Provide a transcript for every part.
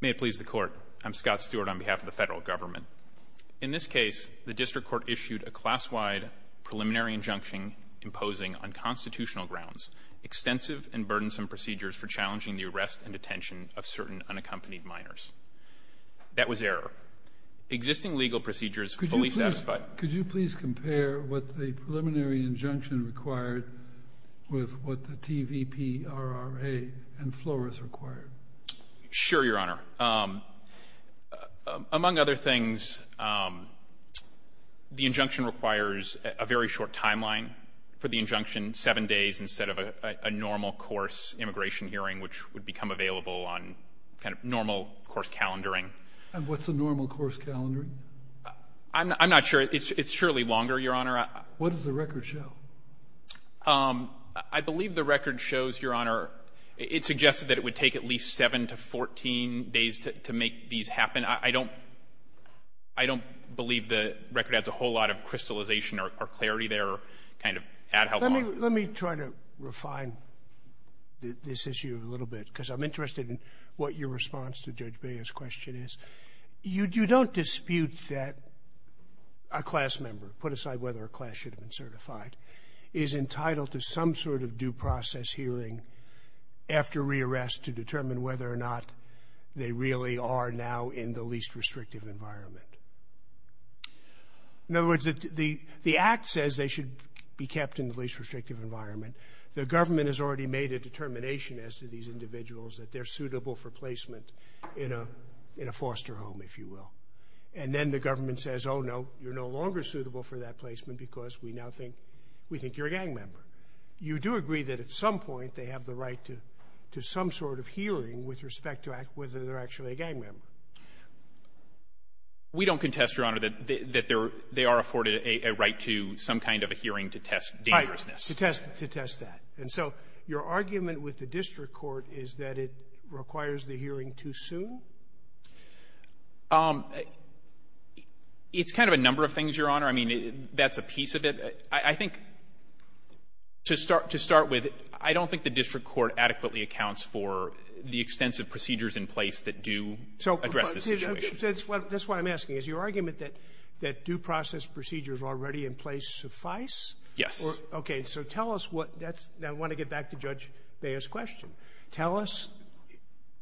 May it please the court. I'm Scott Stewart on behalf of the federal government. In this case the district court issued a class-wide preliminary injunction imposing on constitutional grounds extensive and burdensome procedures for challenging the arrest and detention of certain unaccompanied minors. That was error. Existing legal procedures fully satisfied. Could you please compare what the preliminary injunction required with what the TVP RRA and Flores required? Sure your honor. Among other things the injunction requires a very short timeline for the injunction. Seven days instead of a normal course immigration hearing which would become available on kind of normal course calendaring. And what's the normal course calendaring? I'm not sure it's surely longer your honor. What does the record show? I believe the record shows that it would take at least 7 to 14 days to make these happen. I don't believe the record has a whole lot of crystallization or clarity there. Let me try to refine this issue a little bit because I'm interested in what your response to Judge Baer's question is. You don't dispute that a class member, put aside whether a class should have been certified, is entitled to some sort of due process hearing after re-arrest to determine whether or not they really are now in the least restrictive environment. In other words, the Act says they should be kept in the least restrictive environment. The government has already made a determination as to these individuals that they're suitable for placement in a foster home if you will. And then the government says, oh no, you're no longer suitable for that placement because we now think you're a gang member. You do agree that at some point they have the right to some sort of hearing with respect to whether they're actually a gang member. We don't contest, Your Honor, that they are afforded a right to some kind of a hearing to test dangerousness. Right. To test that. And so your argument with the district court is that it requires the hearing too soon? It's kind of a number of things, Your Honor. I mean, that's a piece of it. I think to start with, I don't think the district court adequately accounts for the extensive procedures in place that do address this situation. So that's what I'm asking. Is your argument that due process procedures already in place suffice? Yes. Okay. So tell us what that's – now, I want to get back to Judge Baer's question. Tell us,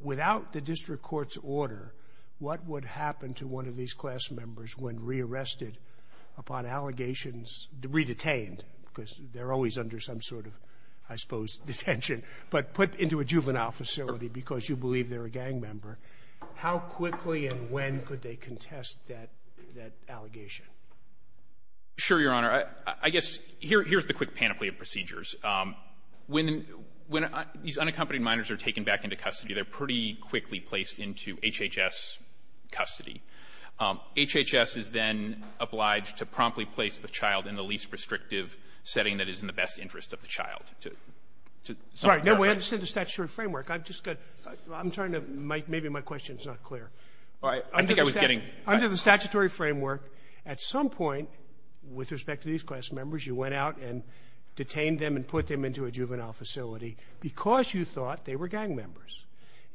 without the district court's order, what would happen to one of these re-arrested upon allegations – re-detained, because they're always under some sort of, I suppose, detention, but put into a juvenile facility because you believe they're a gang member, how quickly and when could they contest that – that allegation? Sure, Your Honor. I guess here's the quick panoply of procedures. When these unaccompanied minors are taken back into custody, they're pretty quickly placed into HHS custody. HHS is then obliged to promptly place the child in the least restrictive setting that is in the best interest of the child to – to some extent. Sorry. No, we understand the statutory framework. I've just got – I'm trying to – maybe my question is not clear. All right. I think I was getting – Under the statutory framework, at some point, with respect to these class members, you went out and detained them and put them into a juvenile facility because you thought they were gang members.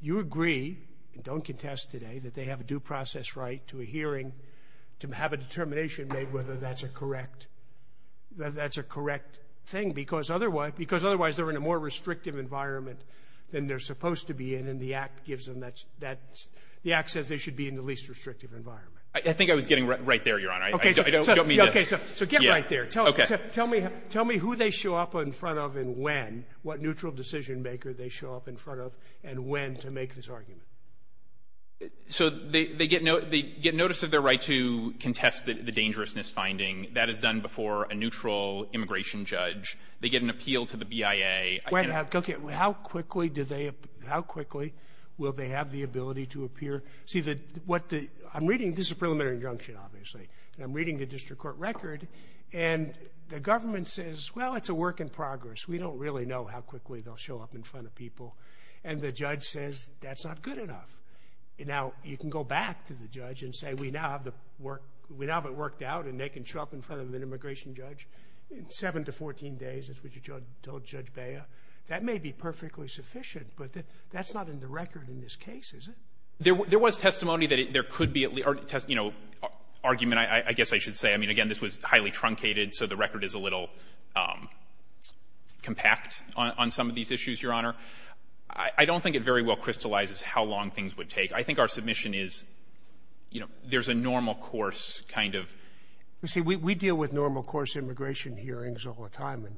You agree, and don't contest today, that they have a due process right to a hearing, to have a determination made whether that's a correct – that that's a correct thing because otherwise – because otherwise, they're in a more restrictive environment than they're supposed to be in, and the Act gives them that – that – the Act says they should be in the least restrictive environment. I think I was getting right there, Your Honor. I don't mean to – Okay. So get right there. Tell me – tell me who they show up in front of and when, what neutral decision-maker they show up in front of and when to make this argument. So they – they get – they get notice of their right to contest the dangerousness finding. That is done before a neutral immigration judge. They get an appeal to the BIA. Wait. Okay. How quickly do they – how quickly will they have the ability to appear? See, the – what the – I'm reading – this is a preliminary injunction, obviously, and I'm reading the district court record, and the government says, well, it's a work in progress. We don't really know how quickly they'll show up in front of people. And the judge says, that's not good enough. Now, you can go back to the judge and say, we now have the work – we now have it worked out, and they can show up in front of an immigration judge in 7 to 14 days, as what you told Judge Bea. That may be perfectly sufficient, but that's not in the record in this case, is it? There – there was testimony that there could be – you know, argument, I guess I should say. I mean, again, this was highly truncated, so the record is a little compact on some of these issues, Your Honor. I don't think it very well crystallizes how long things would take. I think our submission is, you know, there's a normal course kind of – You see, we deal with normal course immigration hearings all the time, and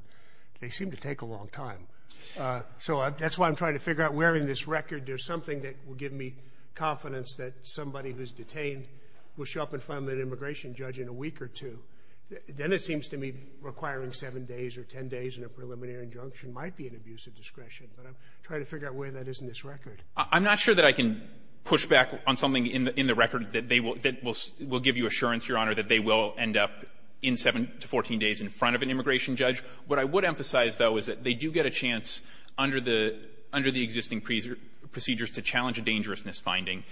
they seem to take a long time. So that's why I'm trying to figure out where in this record there's something that will give me confidence that somebody who's detained will show up in front of an immigration judge in a week or two. Then it seems to me requiring 7 days or 10 days in a preliminary injunction might be an abusive discretion, but I'm trying to figure out where that is in this record. I'm not sure that I can push back on something in the record that they will – that will give you assurance, Your Honor, that they will end up in 7 to 14 days in front of an immigration judge. What I would emphasize, though, is that they do get a chance under the – under the existing procedures to challenge a dangerousness finding.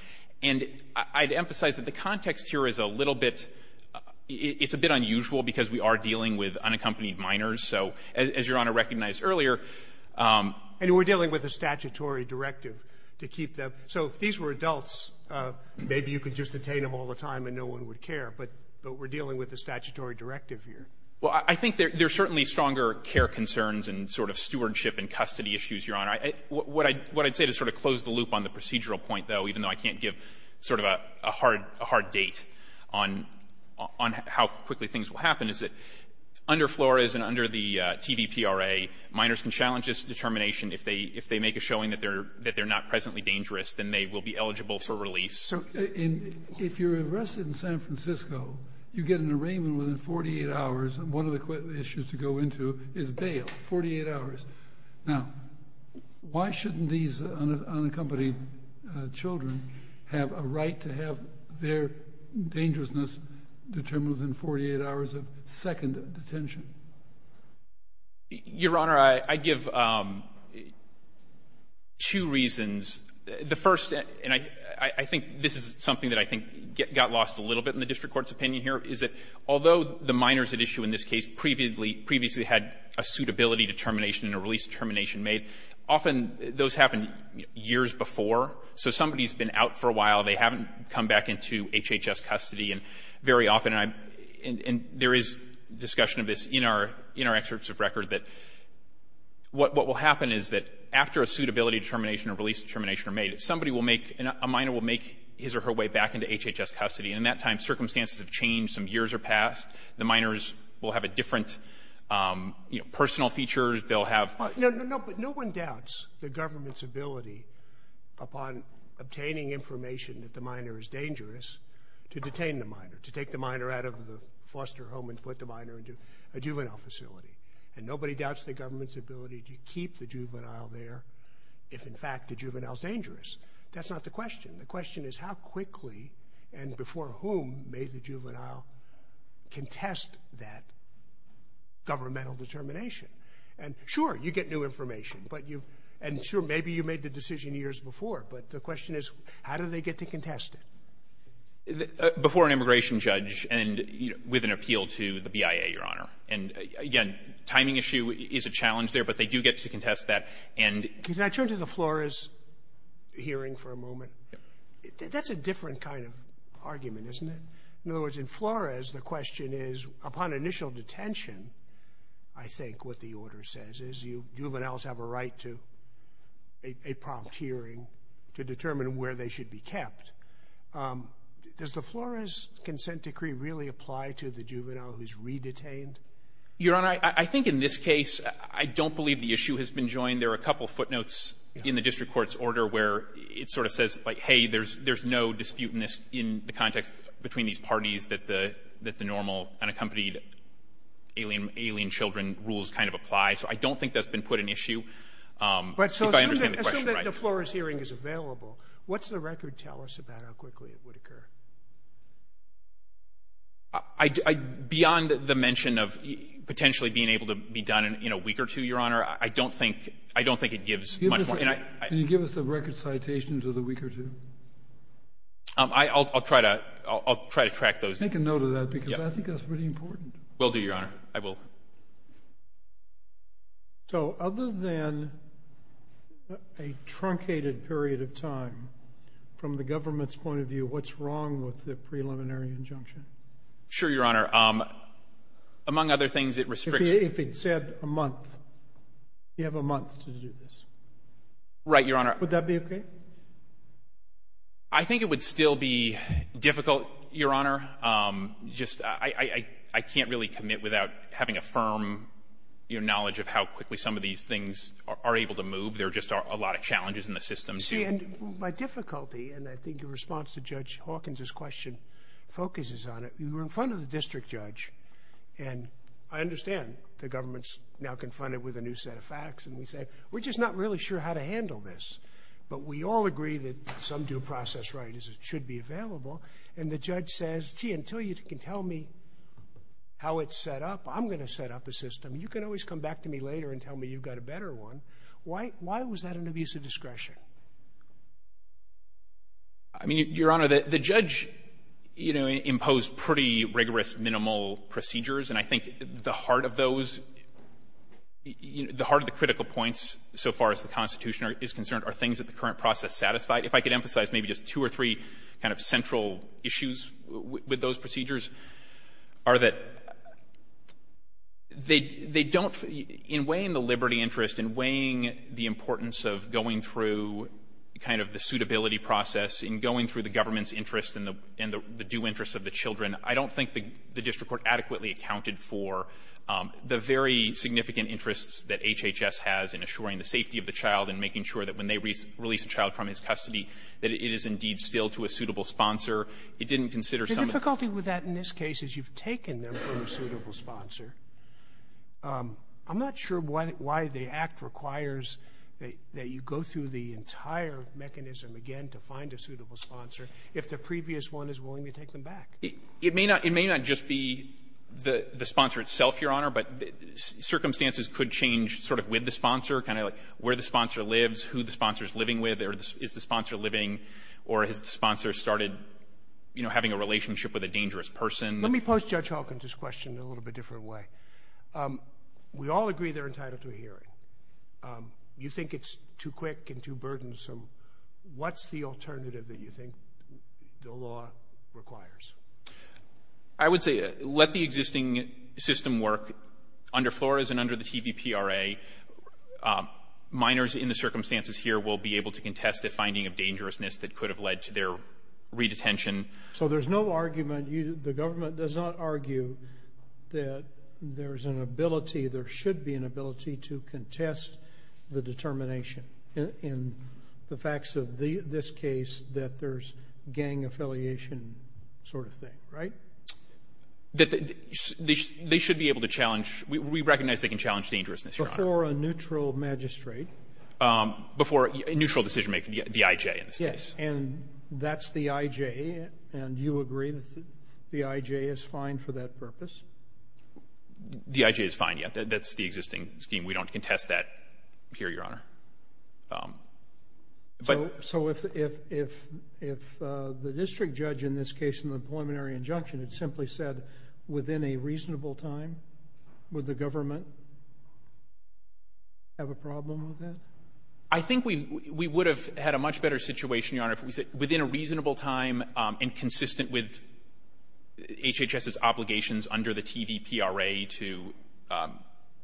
And I'd emphasize that the context here is a little bit – it's a bit unusual because we are dealing with unaccompanied minors. So as Your Honor recognized earlier – And we're dealing with a statutory directive to keep them – so if these were adults, maybe you could just detain them all the time and no one would care, but we're dealing with a statutory directive here. Well, I think there's certainly stronger care concerns and sort of stewardship and custody issues, Your Honor. What I'd say to sort of close the loop on the procedural point, though, even though I can't give sort of a hard – a hard date on – on how quickly things will happen, is that under Flores and under the TVPRA, minors can challenge this determination. If they – if they make a showing that they're – that they're not presently dangerous, then they will be eligible for release. So in – if you're arrested in San Francisco, you get an arraignment within 48 hours, and one of the issues to go into is bail – 48 hours. Now, why shouldn't these unaccompanied children have a right to have their dangerousness determined within 48 hours of second detention? Your Honor, I give two reasons. The first – and I think this is something that I think got lost a little bit in the district court's opinion here, is that although the minors at issue in this case previously – previously had a suitability determination and a release determination made, often those happen years before. So somebody's been out for a while, they haven't come back into HHS custody, and very often – and there is discussion of this in our – in our excerpts of record, that what will happen is that after a suitability determination or release determination are made, somebody will make – a minor will make his or her way back into HHS custody, and in that time, circumstances have changed, some years have passed, the minors will have a different, you know, personal feature, they'll have – No, no, no, but no one doubts the government's ability upon obtaining information that the minor is dangerous to detain the minor, to take the minor out of the foster home and put the minor into a juvenile facility, and nobody doubts the government's ability to keep the juvenile there if, in fact, the juvenile's dangerous. That's not the question. The question is how quickly and before whom may the juvenile contest that governmental determination. And, sure, you get new information, but you – and, sure, maybe you made the decision years before, but the question is how do they get to contest it? Before an immigration judge and with an appeal to the BIA, Your Honor. And, again, timing issue is a challenge there, but they do get to contest that, and – Can I turn to the Flores hearing for a moment? Yes. That's a different kind of argument, isn't it? In other words, in Flores, the question is, upon initial detention, I think what the order says is you juveniles have a right to a prompt hearing to determine where they should be kept. Does the Flores consent decree really apply to the juvenile who's re-detained? Your Honor, I think in this case, I don't believe the issue has been joined. There are a couple footnotes in the district court's order where it sort of says, like, hey, there's no dispute in this – in the context between these parties that the – that the normal unaccompanied alien children rules kind of apply. So I don't think that's been put in issue, if I understand the question right. Assume that the Flores hearing is available. What's the record tell us about how quickly it would occur? I – beyond the mention of potentially being able to be done in a week or two, Your Honor, I don't think – I don't think it gives much more. Can you give us a record citation to the week or two? I'll try to – I'll try to track those. Take a note of that, because I think that's pretty important. Will do, Your Honor. I will. So other than a truncated period of time, from the government's point of view, what's wrong with the preliminary injunction? Sure, Your Honor. Among other things, it restricts – If it said a month, you have a month to do this. Right, Your Honor. Would that be okay? I think it would still be difficult, Your Honor. Just – I can't really commit without having a firm, you know, knowledge of how quickly some of these things are able to move. There just are a lot of challenges in the system. See, and by difficulty, and I think your response to Judge Hawkins' question focuses on it, we were in front of the district judge, and I understand the government's now confronted with a new set of facts, and we say, we're just not really sure how to handle this. But we all agree that some due process right should be available. And the judge says, gee, until you can tell me how it's set up, I'm going to set up a system. You can always come back to me later and tell me you've got a better one. Why was that an abuse of discretion? I mean, Your Honor, the judge, you know, imposed pretty rigorous, minimal procedures. And I think the heart of those – the heart of the critical points, so far as the things that the current process satisfied, if I could emphasize maybe just two or three kind of central issues with those procedures, are that they don't – in weighing the liberty interest, in weighing the importance of going through kind of the suitability process, in going through the government's interest and the due interest of the children, I don't think the district court adequately accounted for the very significant interests that HHS has in assuring the safety of the child and making sure that when they release a child from his custody, that it is indeed still to a suitable sponsor. It didn't consider some of the — Sotomayor, the difficulty with that in this case is you've taken them from a suitable sponsor. I'm not sure why the Act requires that you go through the entire mechanism again to find a suitable sponsor if the previous one is willing to take them back. It may not – it may not just be the sponsor itself, Your Honor, but circumstances could change sort of with the sponsor, kind of like where the sponsor lives, who the sponsor is living with, is the sponsor living, or has the sponsor started, you know, having a relationship with a dangerous person. Let me pose Judge Hawkins' question in a little bit different way. We all agree they're entitled to a hearing. You think it's too quick and too burdensome. What's the alternative that you think the law requires? I would say let the existing system work under Flores and under the TVPRA. Minors in the circumstances here will be able to contest the finding of dangerousness that could have led to their redetention. So there's no argument – the government does not argue that there's an ability, there should be an ability to contest the determination in the facts of this case that there's gang affiliation sort of thing, right? They should be able to challenge – we recognize they can challenge dangerousness, Your Honor. Before a neutral magistrate? Before a neutral decision-maker, the IJ in this case. Yes, and that's the IJ, and you agree that the IJ is fine for that purpose? The IJ is fine, yeah. That's the existing scheme. We don't contest that here, Your Honor. So if the district judge in this case in the preliminary injunction had simply said within a reasonable time, would the government have a problem with that? I think we would have had a much better situation, Your Honor, if we said within a reasonable time and consistent with HHS's obligations under the TVPRA to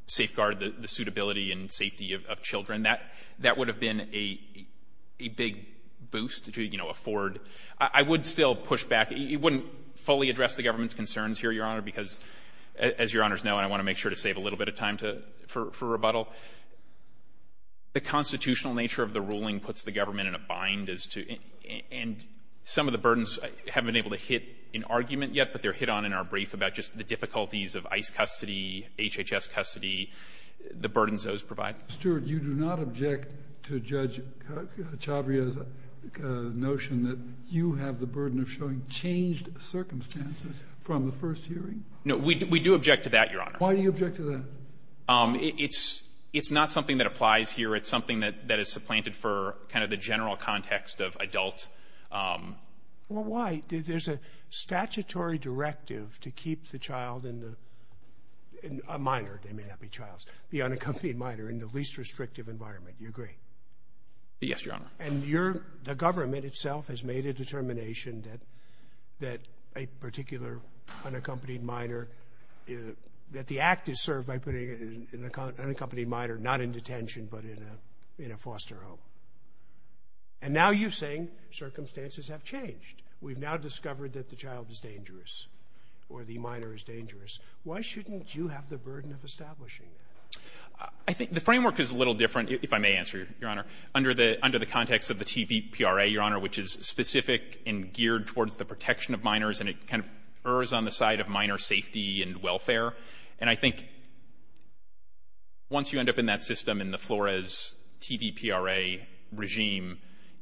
safeguard the suitability and safety of children. That would have been a big boost to, you know, afford. I would still push back. It wouldn't fully address the government's concerns here, Your Honor, because, as Your Honors know, and I want to make sure to save a little bit of time for rebuttal, the constitutional nature of the ruling puts the government in a bind as to – and some of the burdens haven't been able to hit an argument yet, but they're hit on in our brief about just the difficulties of ICE custody, HHS custody, the burdens those provide. Stewart, you do not object to Judge Chabria's notion that you have the burden of showing changed circumstances from the first hearing? No. We do object to that, Your Honor. Why do you object to that? It's not something that applies here. It's something that is supplanted for kind of the general context of adult. Well, why? There's a statutory directive to keep the child in a minor – they may not be childs – the unaccompanied minor in the least restrictive environment. Do you agree? Yes, Your Honor. And the government itself has made a determination that a particular unaccompanied minor – that the act is served by putting an unaccompanied minor not in detention but in a foster home. And now you're saying circumstances have changed. We've now discovered that the child is dangerous or the minor is dangerous. Why shouldn't you have the burden of establishing that? I think the framework is a little different, if I may answer, Your Honor, under the context of the TVPRA, Your Honor, which is specific and geared towards the protection of minors, and it kind of errs on the side of minor safety and welfare. And I think once you end up in that system in the Flores TVPRA regime,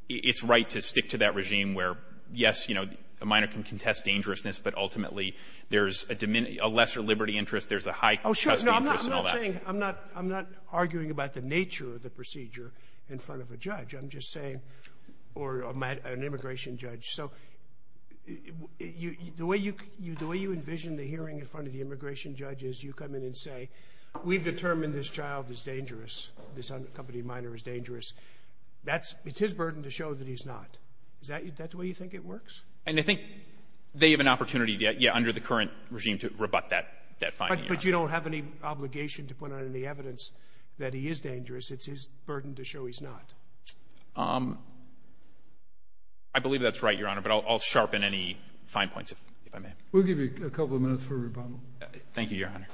it's right to stick to that regime where, yes, you know, a minor can contest dangerousness, but ultimately there's a lesser liberty interest, there's a high custody interest and all that. Oh, sure. No, I'm not saying – I'm not arguing about the nature of the procedure in front of a judge. I'm just saying – or an immigration judge. So the way you envision the hearing in front of the immigration judge is you come in and say, we've determined this child is dangerous, this unaccompanied minor is dangerous. That's – it's his burden to show that he's not. Is that the way you think it works? And I think they have an opportunity, yeah, under the current regime to rebut that finding, Your Honor. But you don't have any obligation to put out any evidence that he is dangerous. It's his burden to show he's not. I believe that's right, Your Honor, but I'll sharpen any fine points, if I may. We'll give you a couple of minutes for rebuttal. Thank you, Your Honor. Thank you.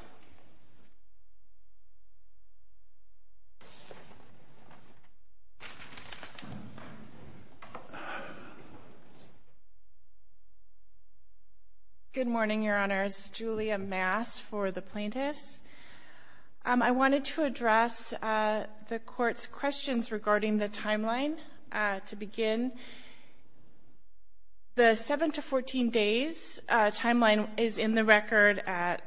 Good morning, Your Honors. Julia Mast for the plaintiffs. I wanted to address the Court's questions regarding the timeline to begin. The 7 to 14 days timeline is in the record at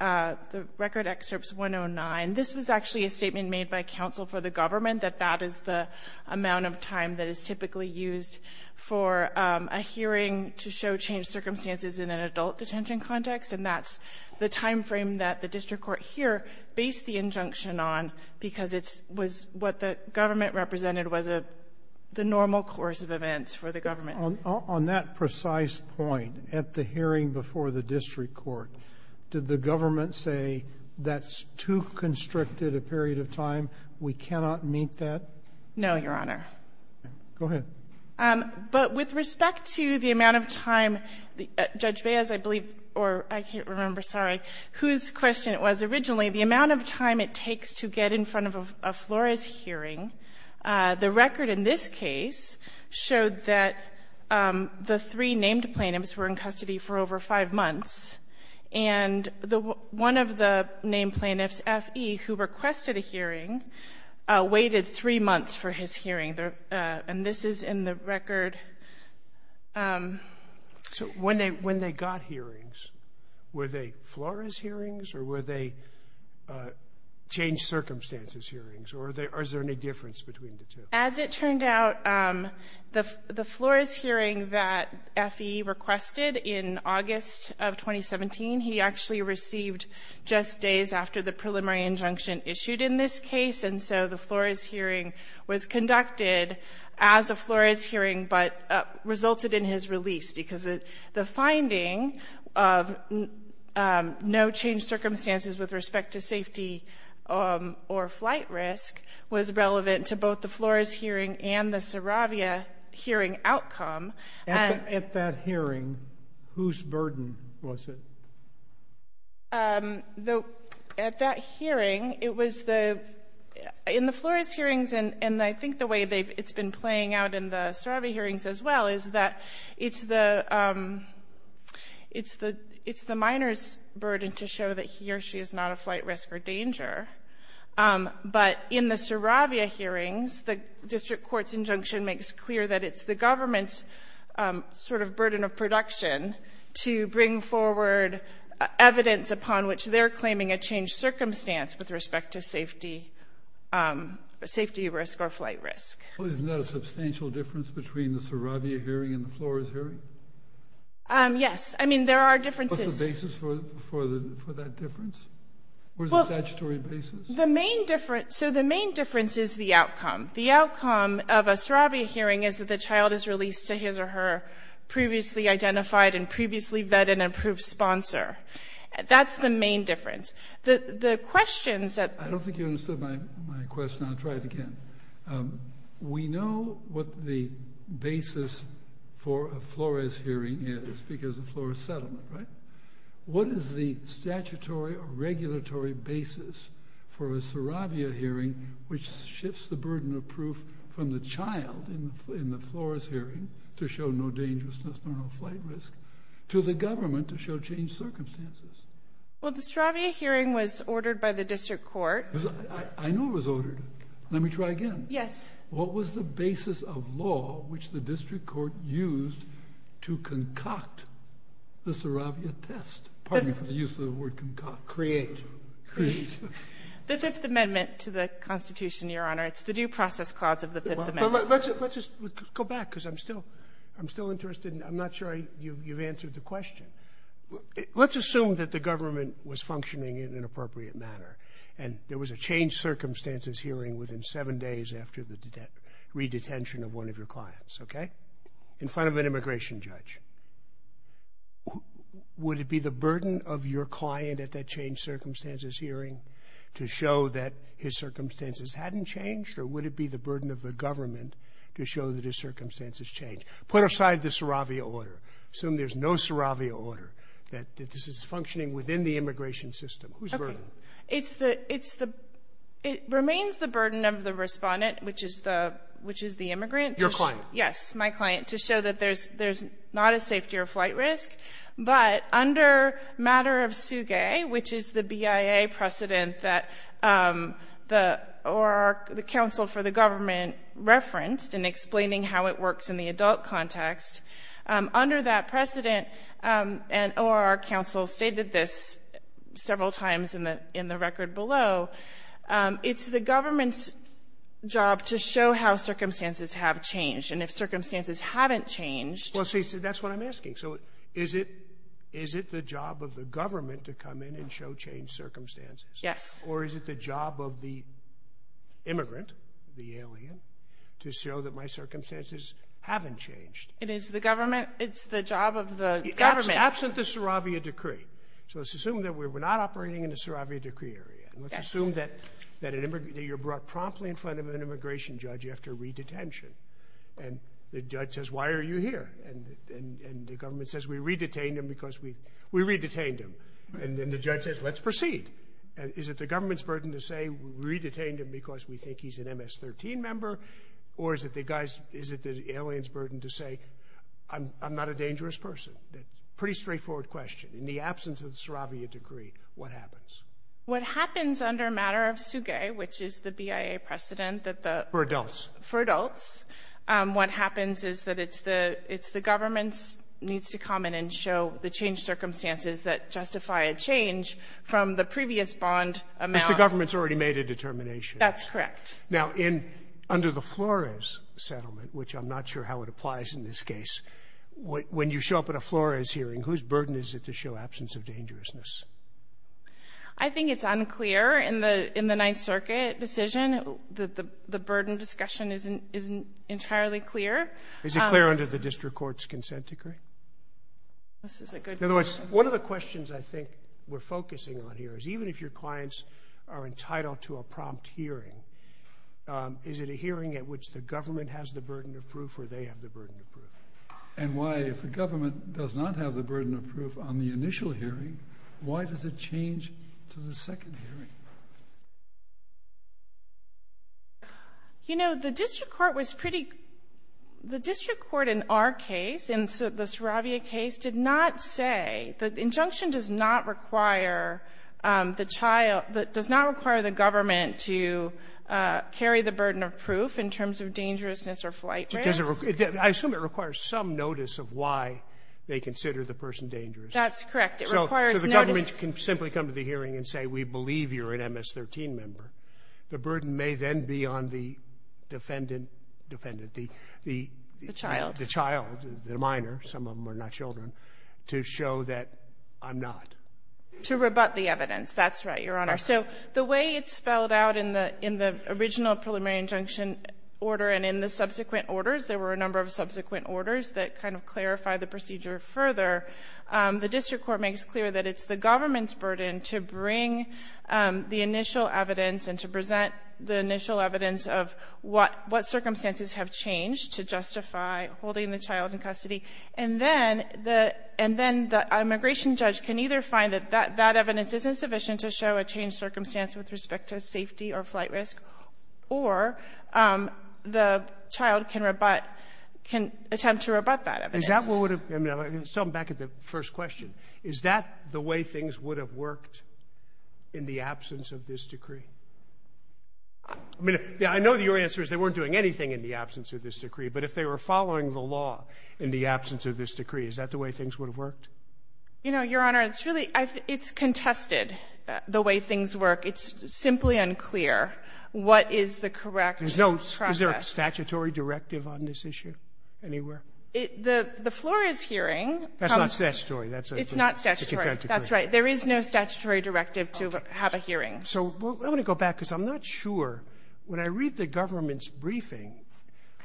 the record excerpts 109. This was actually a statement made by counsel for the government that that is the amount of time that is typically used for a hearing to show changed circumstances in an adult detention context, and that's the timeframe that the district court here based the injunction on because it was what the government represented was the normal course of events for the government. On that precise point, at the hearing before the district court, did the government say that's too constricted a period of time, we cannot meet that? No, Your Honor. Go ahead. But with respect to the amount of time, Judge Baez, I believe, or I can't remember, sorry, whose question it was originally, the amount of time it takes to get in front of a FLORES hearing. The record in this case showed that the three named plaintiffs were in custody for over five months, and one of the named plaintiffs, F.E., who requested a hearing waited three months for his hearing, and this is in the record. So when they got hearings, were they FLORES hearings or were they changed circumstances hearings, or is there any difference between the two? As it turned out, the FLORES hearing that F.E. requested in August of 2017, he actually received just days after the preliminary injunction issued in this case, and so the FLORES hearing was conducted as a FLORES hearing but resulted in his release, because the finding of no changed circumstances with respect to safety or flight risk was relevant to both the FLORES hearing and the Saravia hearing outcome. At that hearing, whose burden was it? At that hearing, it was the — in the FLORES hearings, and I think the way it's been the — it's the minor's burden to show that he or she is not a flight risk or danger. But in the Saravia hearings, the district court's injunction makes clear that it's the government's sort of burden of production to bring forward evidence upon which they're claiming a changed circumstance with respect to safety, safety risk or flight risk. Well, isn't that a substantial difference between the Saravia hearing and the FLORES hearing? Yes. I mean, there are differences. What's the basis for that difference? What is the statutory basis? The main difference — so the main difference is the outcome. The outcome of a Saravia hearing is that the child is released to his or her previously identified and previously vet and approved sponsor. That's the main difference. The questions that — I don't think you understood my question. I'll try it again. We know what the basis for a FLORES hearing is because of FLORES settlement, right? What is the statutory or regulatory basis for a Saravia hearing which shifts the burden of proof from the child in the FLORES hearing to show no dangerousness, no flight risk, to the government to show changed circumstances? Well, the Saravia hearing was ordered by the district court. I know it was ordered. Let me try again. Yes. What was the basis of law which the district court used to concoct the Saravia test? Pardon me for the use of the word concoct. Create. Create. The Fifth Amendment to the Constitution, Your Honor. It's the Due Process Clause of the Fifth Amendment. Let's just go back because I'm still interested and I'm not sure you've answered the question. Let's assume that the government was functioning in an appropriate manner and there was a changed circumstances hearing within seven days after the redetention of one of your clients, okay, in front of an immigration judge. Would it be the burden of your client at that changed circumstances hearing to show that his circumstances hadn't changed or would it be the burden of the government to show that his circumstances changed? Put aside the Saravia order. Assume there's no Saravia order, that this is functioning within the immigration system. Who's burden? Okay. It's the — it remains the burden of the Respondent, which is the — which is the immigrant. Your client. Yes. My client. To show that there's not a safety or flight risk. But under matter of Suge, which is the BIA precedent that the — or the counsel for the government referenced in explaining how it works in the adult context, under that precedent, and — or our counsel stated this several times in the — in the record below, it's the government's job to show how circumstances have changed. And if circumstances haven't changed — Well, see, that's what I'm asking. So is it — is it the job of the government to come in and show changed circumstances? Yes. Or is it the job of the immigrant, the alien, to show that my circumstances haven't changed? It is the government — it's the job of the government — Absent the Saravia decree. So let's assume that we're not operating in a Saravia decree area. Yes. And let's assume that an — that you're brought promptly in front of an immigration judge after redetention. And the judge says, why are you here? And the government says, we redetained him because we — we redetained him. And then the judge says, let's proceed. Is it the government's burden to say, we redetained him because we think he's an MS-13 member? Or is it the guy's — is it the alien's burden to say, I'm — I'm not a dangerous person? That's a pretty straightforward question. In the absence of the Saravia decree, what happens? What happens under a matter of SUGE, which is the BIA precedent that the — For adults. For adults. What happens is that it's the — it's the government's needs to come in and show the changed circumstances that justify a change from the previous bond amount — Which the government's already made a determination. That's correct. Now, in — under the Flores settlement, which I'm not sure how it applies in this case, when you show up at a Flores hearing, whose burden is it to show absence of dangerousness? I think it's unclear in the — in the Ninth Circuit decision that the — the burden discussion isn't entirely clear. Is it clear under the district court's consent decree? This is a good question. In other words, one of the questions I think we're focusing on here is, even if your clients are entitled to a prompt hearing, is it a hearing at which the government has the burden of proof or they have the burden of proof? And why, if the government does not have the burden of proof on the initial hearing, why does it change to the second hearing? You know, the district court was pretty — the district court in our case, in the Saravia case, did not say — the injunction does not require the child — does not require the government to carry the burden of proof in terms of dangerousness or flight risk. Does it — I assume it requires some notice of why they consider the person dangerous. That's correct. It requires notice. If the government can simply come to the hearing and say, we believe you're an MS-13 member, the burden may then be on the defendant — defendant, the — the — The child. The child, the minor. Some of them are not children, to show that I'm not. To rebut the evidence. That's right, Your Honor. So the way it's spelled out in the — in the original preliminary injunction order and in the subsequent orders — there were a number of subsequent orders that kind of clarify the procedure further — the district court makes clear that it's the government's burden to bring the initial evidence and to present the initial evidence of what — what circumstances have changed to justify holding the child in custody. And then the — and then the immigration judge can either find that that evidence isn't sufficient to show a changed circumstance with respect to safety or flight risk, or the child can rebut — can attempt to rebut that evidence. Let's talk back to the first question. Is that the way things would have worked in the absence of this decree? I mean, I know that your answer is they weren't doing anything in the absence of this decree, but if they were following the law in the absence of this decree, is that the way things would have worked? You know, Your Honor, it's really — it's contested, the way things work. It's simply unclear what is the correct process. Is there a statutory directive on this issue anywhere? The floor is hearing. That's not statutory. It's not statutory. That's right. There is no statutory directive to have a hearing. Okay. So I want to go back because I'm not sure. When I read the government's briefing,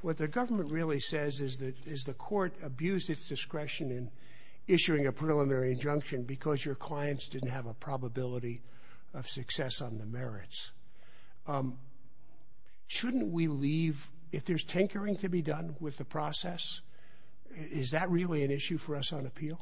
what the government really says is that the court abused its discretion in issuing a preliminary injunction because your clients didn't have a probability of success on the merits. Shouldn't we leave — if there's tinkering to be done with the process, is that really an issue for us on appeal?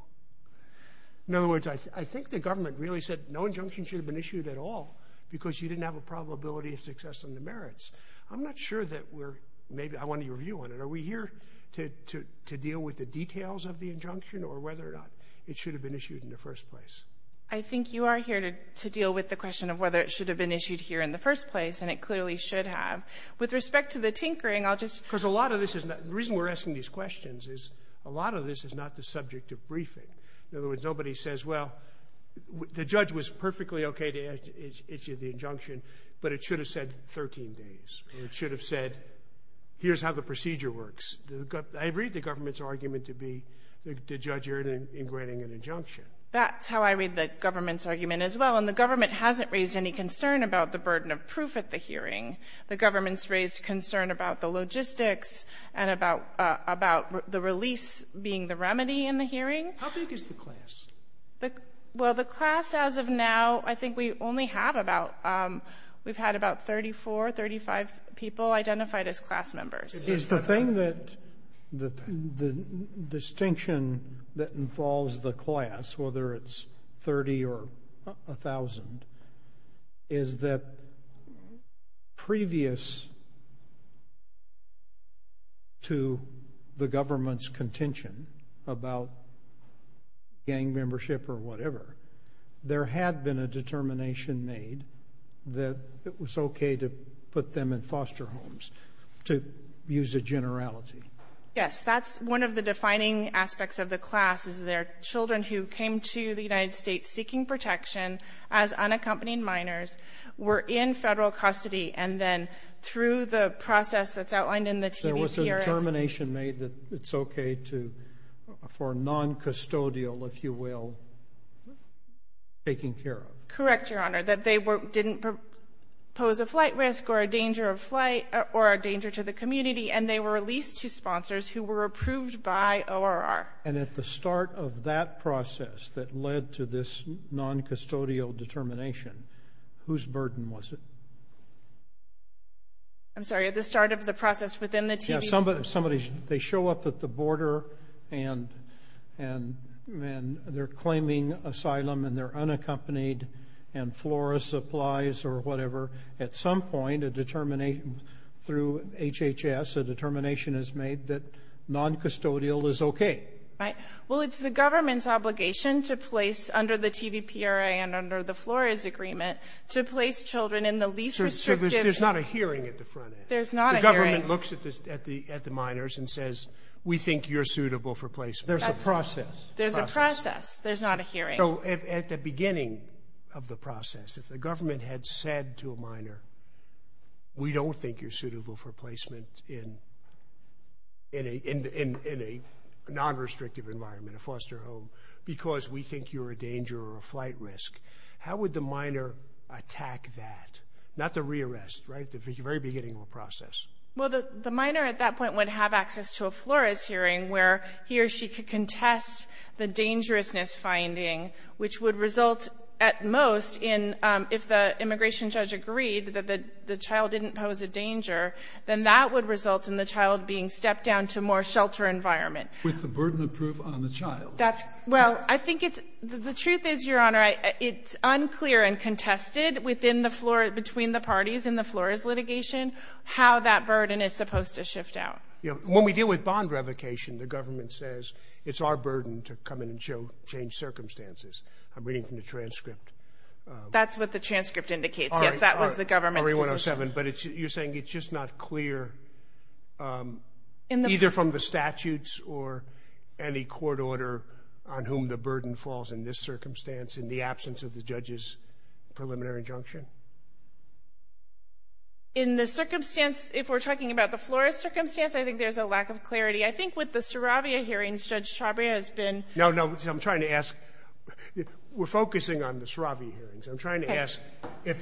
In other words, I think the government really said no injunction should have been issued at all because you didn't have a probability of success on the merits. I'm not sure that we're — maybe I want your view on it. Are we here to deal with the details of the injunction or whether or not it should have been issued in the first place? I think you are here to deal with the question of whether it should have been issued here in the first place, and it clearly should have. With respect to the tinkering, I'll just — Because a lot of this is not — the reason we're asking these questions is a lot of this is not the subject of briefing. In other words, nobody says, well, the judge was perfectly okay to issue the injunction, but it should have said 13 days, or it should have said, here's how the procedure works. I read the government's argument to be the judge here in granting an injunction. That's how I read the government's argument as well. And the government hasn't raised any concern about the burden of proof at the hearing. The government's raised concern about the logistics and about — about the release being the remedy in the hearing. How big is the class? Well, the class as of now, I think we only have about — we've had about 34, 35 people identified as class members. Is the thing that — the distinction that involves the class, whether it's 30 or 1,000 is that previous to the government's contention about gang membership or whatever, there had been a determination made that it was okay to put them in foster homes, to use a generality. Yes, that's one of the defining aspects of the class, is there are children who came to the United States seeking protection as unaccompanied minors, were in federal custody, and then through the process that's outlined in the TVPRA — There was a determination made that it's okay to — for noncustodial, if you will, taking care of. Correct, Your Honor, that they didn't pose a flight risk or a danger of flight or a danger to the community, and they were released to sponsors who were approved by ORR. And at the start of that process that led to this noncustodial determination, whose burden was it? I'm sorry, at the start of the process within the TVPRA? Yeah, somebody — they show up at the border, and they're claiming asylum, and they're unaccompanied, and flora supplies or whatever. At some point, a determination — through HHS, a determination is made that noncustodial is okay. Right. Well, it's the government's obligation to place, under the TVPRA and under the Flores Agreement, to place children in the least restrictive — So there's not a hearing at the front end? There's not a hearing. The government looks at the minors and says, we think you're suitable for placement. There's a process. There's a process. There's not a hearing. So at the beginning of the process, if the government had said to a minor, we don't think you're suitable for placement in a nonrestrictive environment, a foster home, because we think you're a danger or a flight risk, how would the minor attack that? Not the rearrest, right? The very beginning of a process. Well, the minor at that point would have access to a Flores hearing, where he or she could which would result at most in, if the immigration judge agreed that the child didn't pose a danger, then that would result in the child being stepped down to a more shelter environment. With the burden of proof on the child. That's — well, I think it's — the truth is, Your Honor, it's unclear and contested within the Flores — between the parties in the Flores litigation how that burden is supposed to shift out. Yeah. When we deal with bond revocation, the government says it's our burden to come in and show — change circumstances. I'm reading from the transcript. That's what the transcript indicates. Yes, that was the government's position. All right, all right. Marie 107, but it's — you're saying it's just not clear either from the statutes or any court order on whom the burden falls in this circumstance in the absence of the judge's preliminary injunction? In the circumstance — if we're talking about the Flores circumstance, I think there's a lack of clarity. I think with the Saravia hearings, Judge Chabria has been — No, no, I'm trying to ask — we're focusing on the Saravia hearings. I'm trying to ask if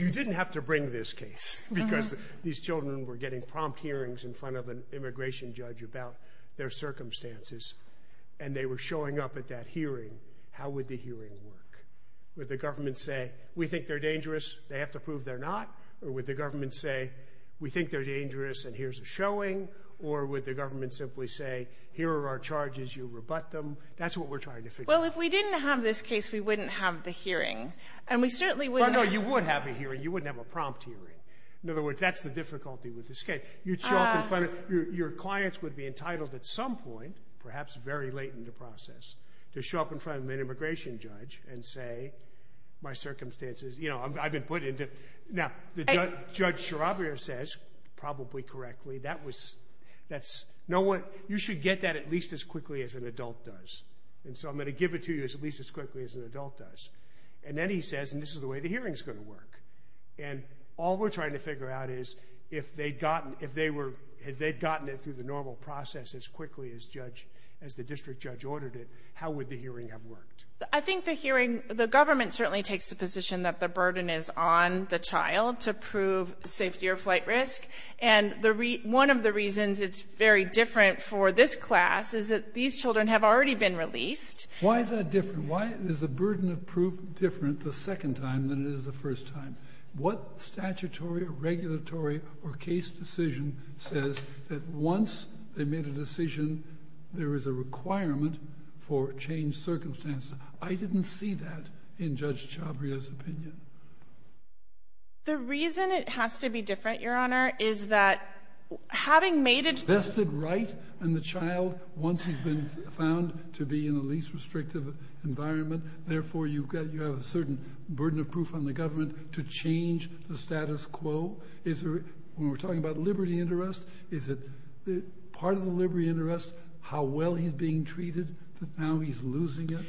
you didn't have to bring this case because these children were getting prompt hearings in front of an immigration judge about their circumstances, and they were showing up at that hearing, how would the hearing work? Would the government say, we think they're dangerous, they have to prove they're not? Or would the government say, we think they're dangerous and here's a showing? Or would the government simply say, here are our charges, you rebut them? That's what we're trying to figure out. Well, if we didn't have this case, we wouldn't have the hearing. And we certainly wouldn't have — Well, no, you would have a hearing. You wouldn't have a prompt hearing. In other words, that's the difficulty with this case. You'd show up in front of — your clients would be entitled at some point, perhaps very late in the process, to show up in front of an immigration judge and say, my circumstances, you know, I've been put into — now, Judge Saravia says, probably correctly, that was — that's — no one — you should get that at least as quickly as an adult does. And so I'm going to give it to you at least as quickly as an adult does. And then he says, and this is the way the hearing's going to work. And all we're trying to figure out is, if they'd gotten — if they were — if they'd gotten it through the normal process as quickly as judge — as the district judge ordered it, how would the hearing have worked? I think the hearing — the government certainly takes the position that the burden is on the child to prove safety or flight risk. And the — one of the reasons it's very different for this class is that these children have already been released. Why is that different? Why is the burden of proof different the second time than it is the first time? What statutory or regulatory or case decision says that once they made a decision, there is a requirement for changed circumstances? I didn't see that in Judge Chabria's opinion. The reason it has to be different, Your Honor, is that having made a — Vested right in the child once he's been found to be in the least restrictive environment, therefore you've got — you have a certain burden of proof on the government to change the status quo. Is there — when we're talking about liberty interest, is it part of the liberty interest how well he's being treated, but now he's losing it?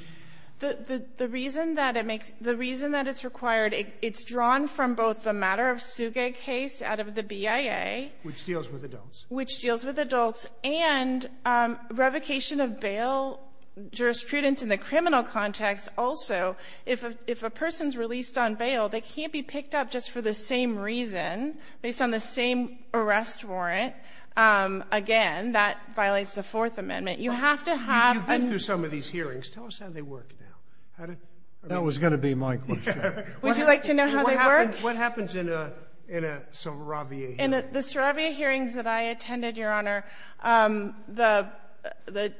The reason that it makes — the reason that it's required, it's drawn from both the matter-of-suge case out of the BIA — Which deals with adults. Which deals with adults, and revocation of bail jurisprudence in the criminal context also. If a person's released on bail, they can't be picked up just for the same reason based on the same arrest warrant. Again, that violates the Fourth Amendment. You have to have — You've been through some of these hearings. Tell us how they work now. That was going to be my question. Would you like to know how they work? What happens in a Saravia hearing? In the Saravia hearings that I attended, Your Honor, the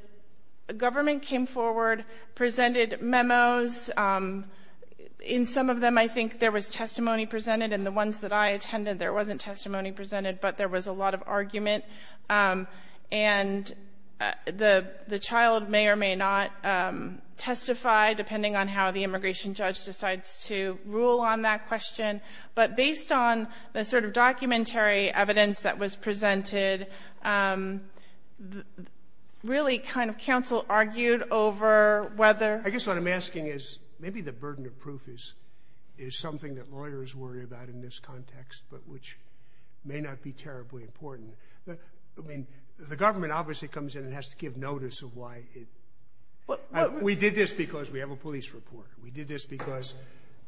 government came forward, presented memos. In some of them, I think there was testimony presented. In the ones that I attended, there wasn't testimony presented, but there was a lot of argument. And the child may or may not testify, depending on how the immigration judge decides to rule on that question. But based on the sort of documentary evidence that was presented, really kind of counsel argued over whether — What I'm asking is, maybe the burden of proof is something that lawyers worry about in this context, but which may not be terribly important. I mean, the government obviously comes in and has to give notice of why it — We did this because we have a police report. We did this because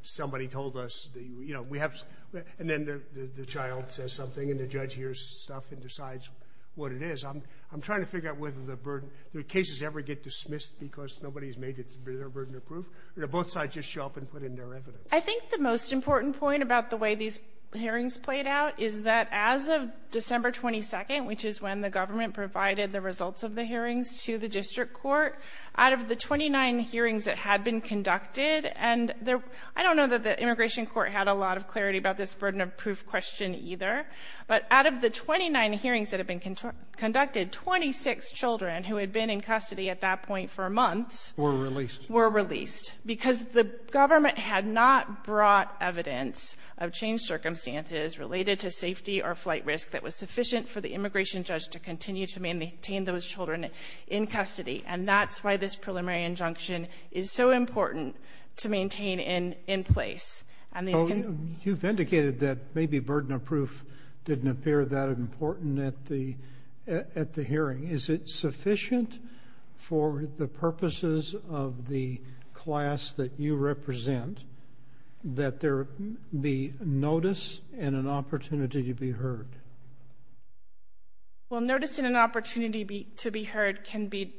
somebody told us — You know, we have — And then the child says something, and the judge hears stuff and decides what it is. I'm trying to figure out whether the burden — Do cases ever get dismissed because nobody's made it their burden of proof, or do both sides just show up and put in their evidence? I think the most important point about the way these hearings played out is that as of December 22nd, which is when the government provided the results of the hearings to the district court, out of the 29 hearings that had been conducted, and there — I don't know that the immigration court had a lot of clarity about this burden conducted, 26 children who had been in custody at that point for months — Were released. Were released. Because the government had not brought evidence of changed circumstances related to safety or flight risk that was sufficient for the immigration judge to continue to maintain those children in custody. And that's why this preliminary injunction is so important to maintain in place. And these can — You've indicated that maybe burden of proof didn't appear that important at the hearing. Is it sufficient for the purposes of the class that you represent that there be notice and an opportunity to be heard? Well, notice and an opportunity to be heard can be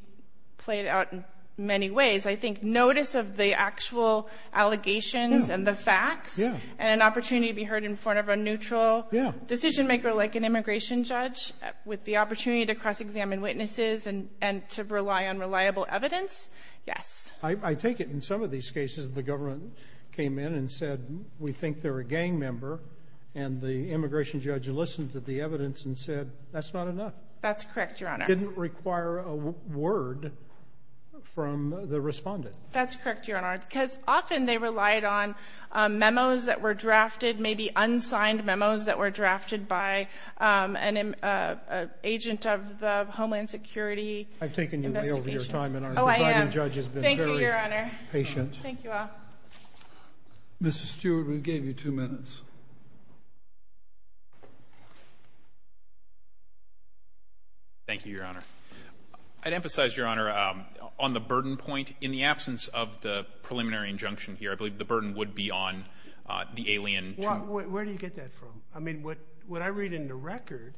played out in many ways. I think notice of the actual allegations and the facts and an opportunity to be heard in front of a neutral decision-maker like an immigration judge with the opportunity to cross-examine witnesses and to rely on reliable evidence, yes. I take it in some of these cases the government came in and said, we think they're a gang member, and the immigration judge listened to the evidence and said, that's not enough. That's correct, Your Honor. It didn't require a word from the respondent. That's correct, Your Honor, because often they relied on memos that were drafted, maybe unsigned memos that were drafted by an agent of the Homeland Security. I've taken you way over your time, and our presiding judge has been very patient. Oh, I have. Thank you, Your Honor. Thank you all. Mr. Stewart, we gave you two minutes. Thank you, Your Honor. I'd emphasize, Your Honor, on the burden point. In the absence of the preliminary injunction here, I believe the burden would be on the alien. Well, where do you get that from? I mean, what I read in the record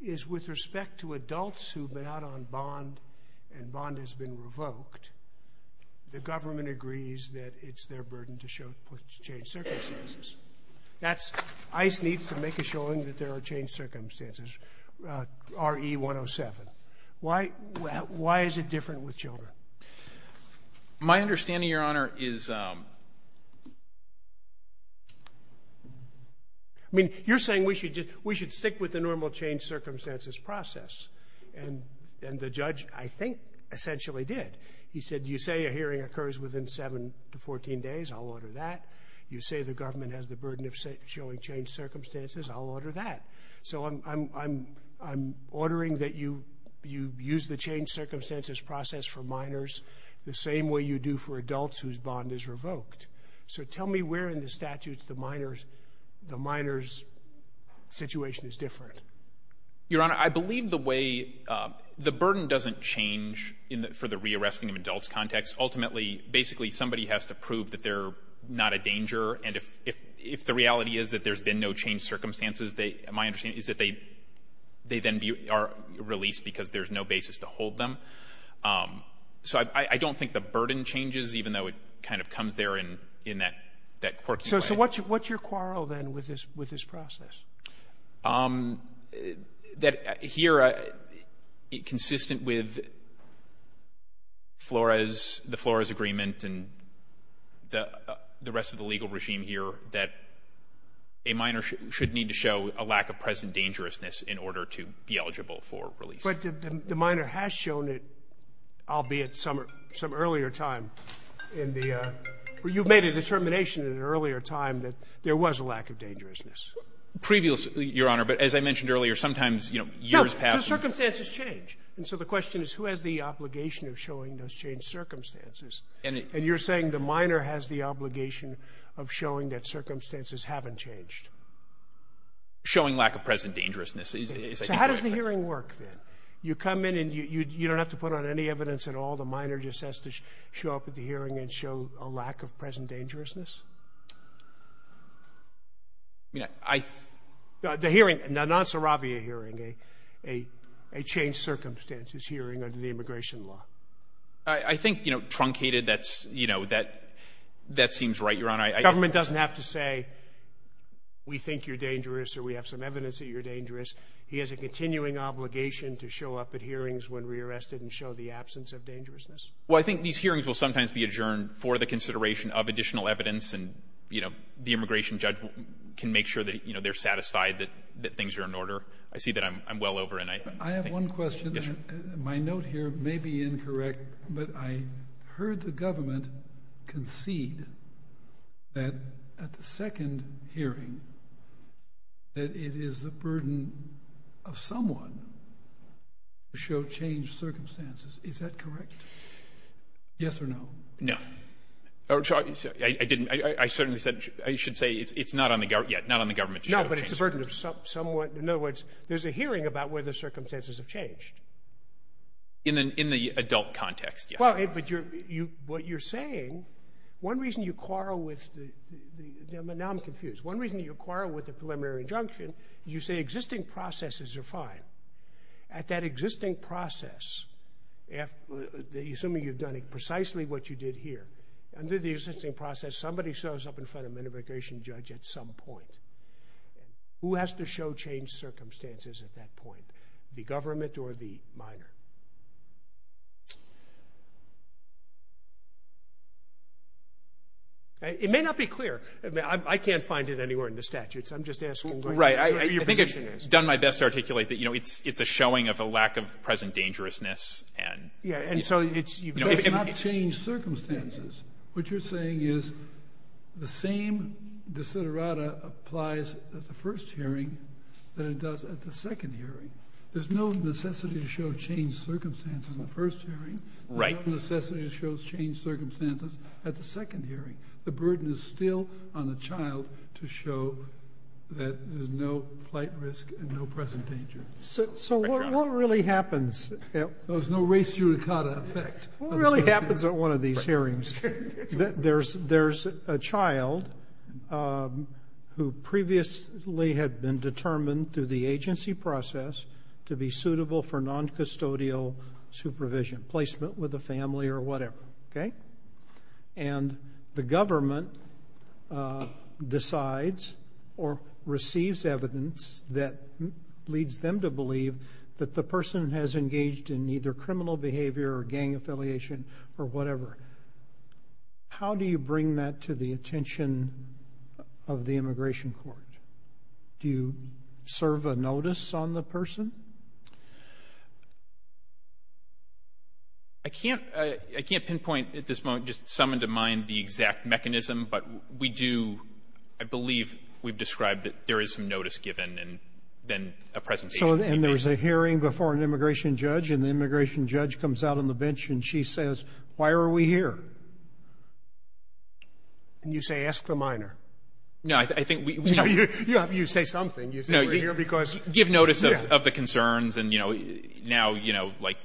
is with respect to adults who have been out on bond and bond has been revoked, the government agrees that it's their burden to change circumstances. That's ICE needs to make a showing that there are changed circumstances, RE107. Why is it different with children? My understanding, Your Honor, is you're saying we should stick with the normal change circumstances process, and the judge, I think, essentially did. He said, you say a hearing occurs within 7 to 14 days, I'll order that. You say the government has the burden of showing changed circumstances, I'll order that. So I'm ordering that you use the changed circumstances process for minors the same way you do for adults whose bond is revoked. So tell me where in the statutes the minor's situation is different. Your Honor, I believe the way the burden doesn't change for the rearresting of adults context. Basically, somebody has to prove that they're not a danger, and if the reality is that there's been no changed circumstances, my understanding is that they then are released because there's no basis to hold them. So I don't think the burden changes, even though it kind of comes there in that quirky way. So what's your quarrel, then, with this process? That here, consistent with Flores, the Flores agreement and the rest of the legal regime here, that a minor should need to show a lack of present dangerousness in order to be eligible for release. But the minor has shown it, albeit some earlier time in the you've made a determination in an earlier time that there was a lack of dangerousness. Previously, Your Honor, but as I mentioned earlier, sometimes, you know, years past. So circumstances change. And so the question is, who has the obligation of showing those changed circumstances? And you're saying the minor has the obligation of showing that circumstances haven't changed? Showing lack of present dangerousness. So how does the hearing work, then? You come in and you don't have to put on any evidence at all? The minor just has to show up at the hearing and show a lack of present dangerousness? I mean, I think the hearing, the non-suravia hearing, a changed circumstances hearing under the immigration law. I think, you know, truncated, that's, you know, that seems right, Your Honor. Government doesn't have to say we think you're dangerous or we have some evidence that you're dangerous. He has a continuing obligation to show up at hearings when re-arrested and show the absence of dangerousness. Well, I think these hearings will sometimes be adjourned for the consideration of additional evidence and, you know, the immigration judge can make sure that, you know, they're satisfied that things are in order. I see that I'm well over. I have one question. My note here may be incorrect, but I heard the government concede that at the second hearing that it is the burden of someone to show changed circumstances. Is that correct? Yes or no? No. I didn't. I certainly said I should say it's not on the government yet, not on the government to show changed circumstances. No, but it's a burden of someone. In other words, there's a hearing about whether circumstances have changed. In the adult context, yes. Well, but what you're saying, one reason you quarrel with the — now I'm confused. One reason you quarrel with the preliminary injunction is you say existing processes are fine. At that existing process, assuming you've done precisely what you did here, under the existing process somebody shows up in front of an immigration judge at some point. Who has to show changed circumstances at that point, the government or the minor? It may not be clear. I can't find it anywhere in the statutes. I'm just asking. Right. I think I've done my best to articulate that, you know, it's a showing of a lack of present dangerousness and — Yeah, and so it's — But it's not changed circumstances. What you're saying is the same desiderata applies at the first hearing than it does at the second hearing. There's no necessity to show changed circumstances in the first hearing. Right. There's no necessity to show changed circumstances at the second hearing. The burden is still on the child to show that there's no flight risk and no present danger. So what really happens — There's no race judicata effect. What really happens at one of these hearings? There's a child who previously had been determined through the agency process to be suitable for noncustodial supervision, placement with a family or whatever. Okay? And the government decides or receives evidence that leads them to believe that the person has engaged in either criminal behavior or gang affiliation or whatever. How do you bring that to the attention of the immigration court? Do you serve a notice on the person? I can't pinpoint at this moment just some into mind the exact mechanism, but we do — I believe we've described that there is some notice given and then a presentation. And there's a hearing before an immigration judge, and the immigration judge comes out on the bench, and she says, Why are we here? And you say, Ask the minor. No, I think we — You say something. You say we're here because — We have concerns and, you know, now, you know, like,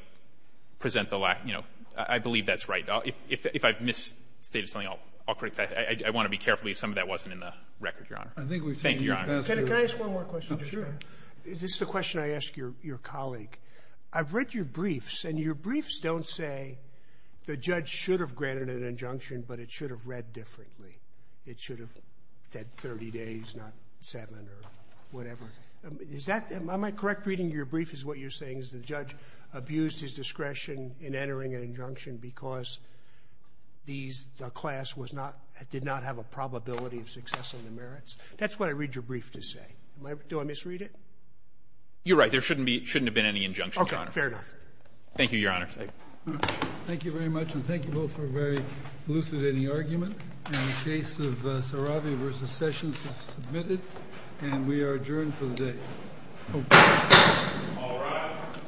present the lack — you know, I believe that's right. If I've misstated something, I'll correct that. I want to be careful if some of that wasn't in the record, Your Honor. Thank you, Your Honor. Can I ask one more question? Sure. This is a question I ask your colleague. I've read your briefs, and your briefs don't say the judge should have granted an injunction, but it should have read differently. It should have said 30 days, not seven or whatever. Is that — am I correct reading your brief is what you're saying is the judge abused his discretion in entering an injunction because these — the class was not — did not have a probability of success in the merits? That's what I read your brief to say. Am I — do I misread it? You're right. There shouldn't be — shouldn't have been any injunction, Your Honor. Okay. Fair enough. Thank you, Your Honor. Thank you very much, and thank you both for a very elucidating argument. And the case of Sarabi v. Sessions is submitted, and we are adjourned for the day. Okay. All rise.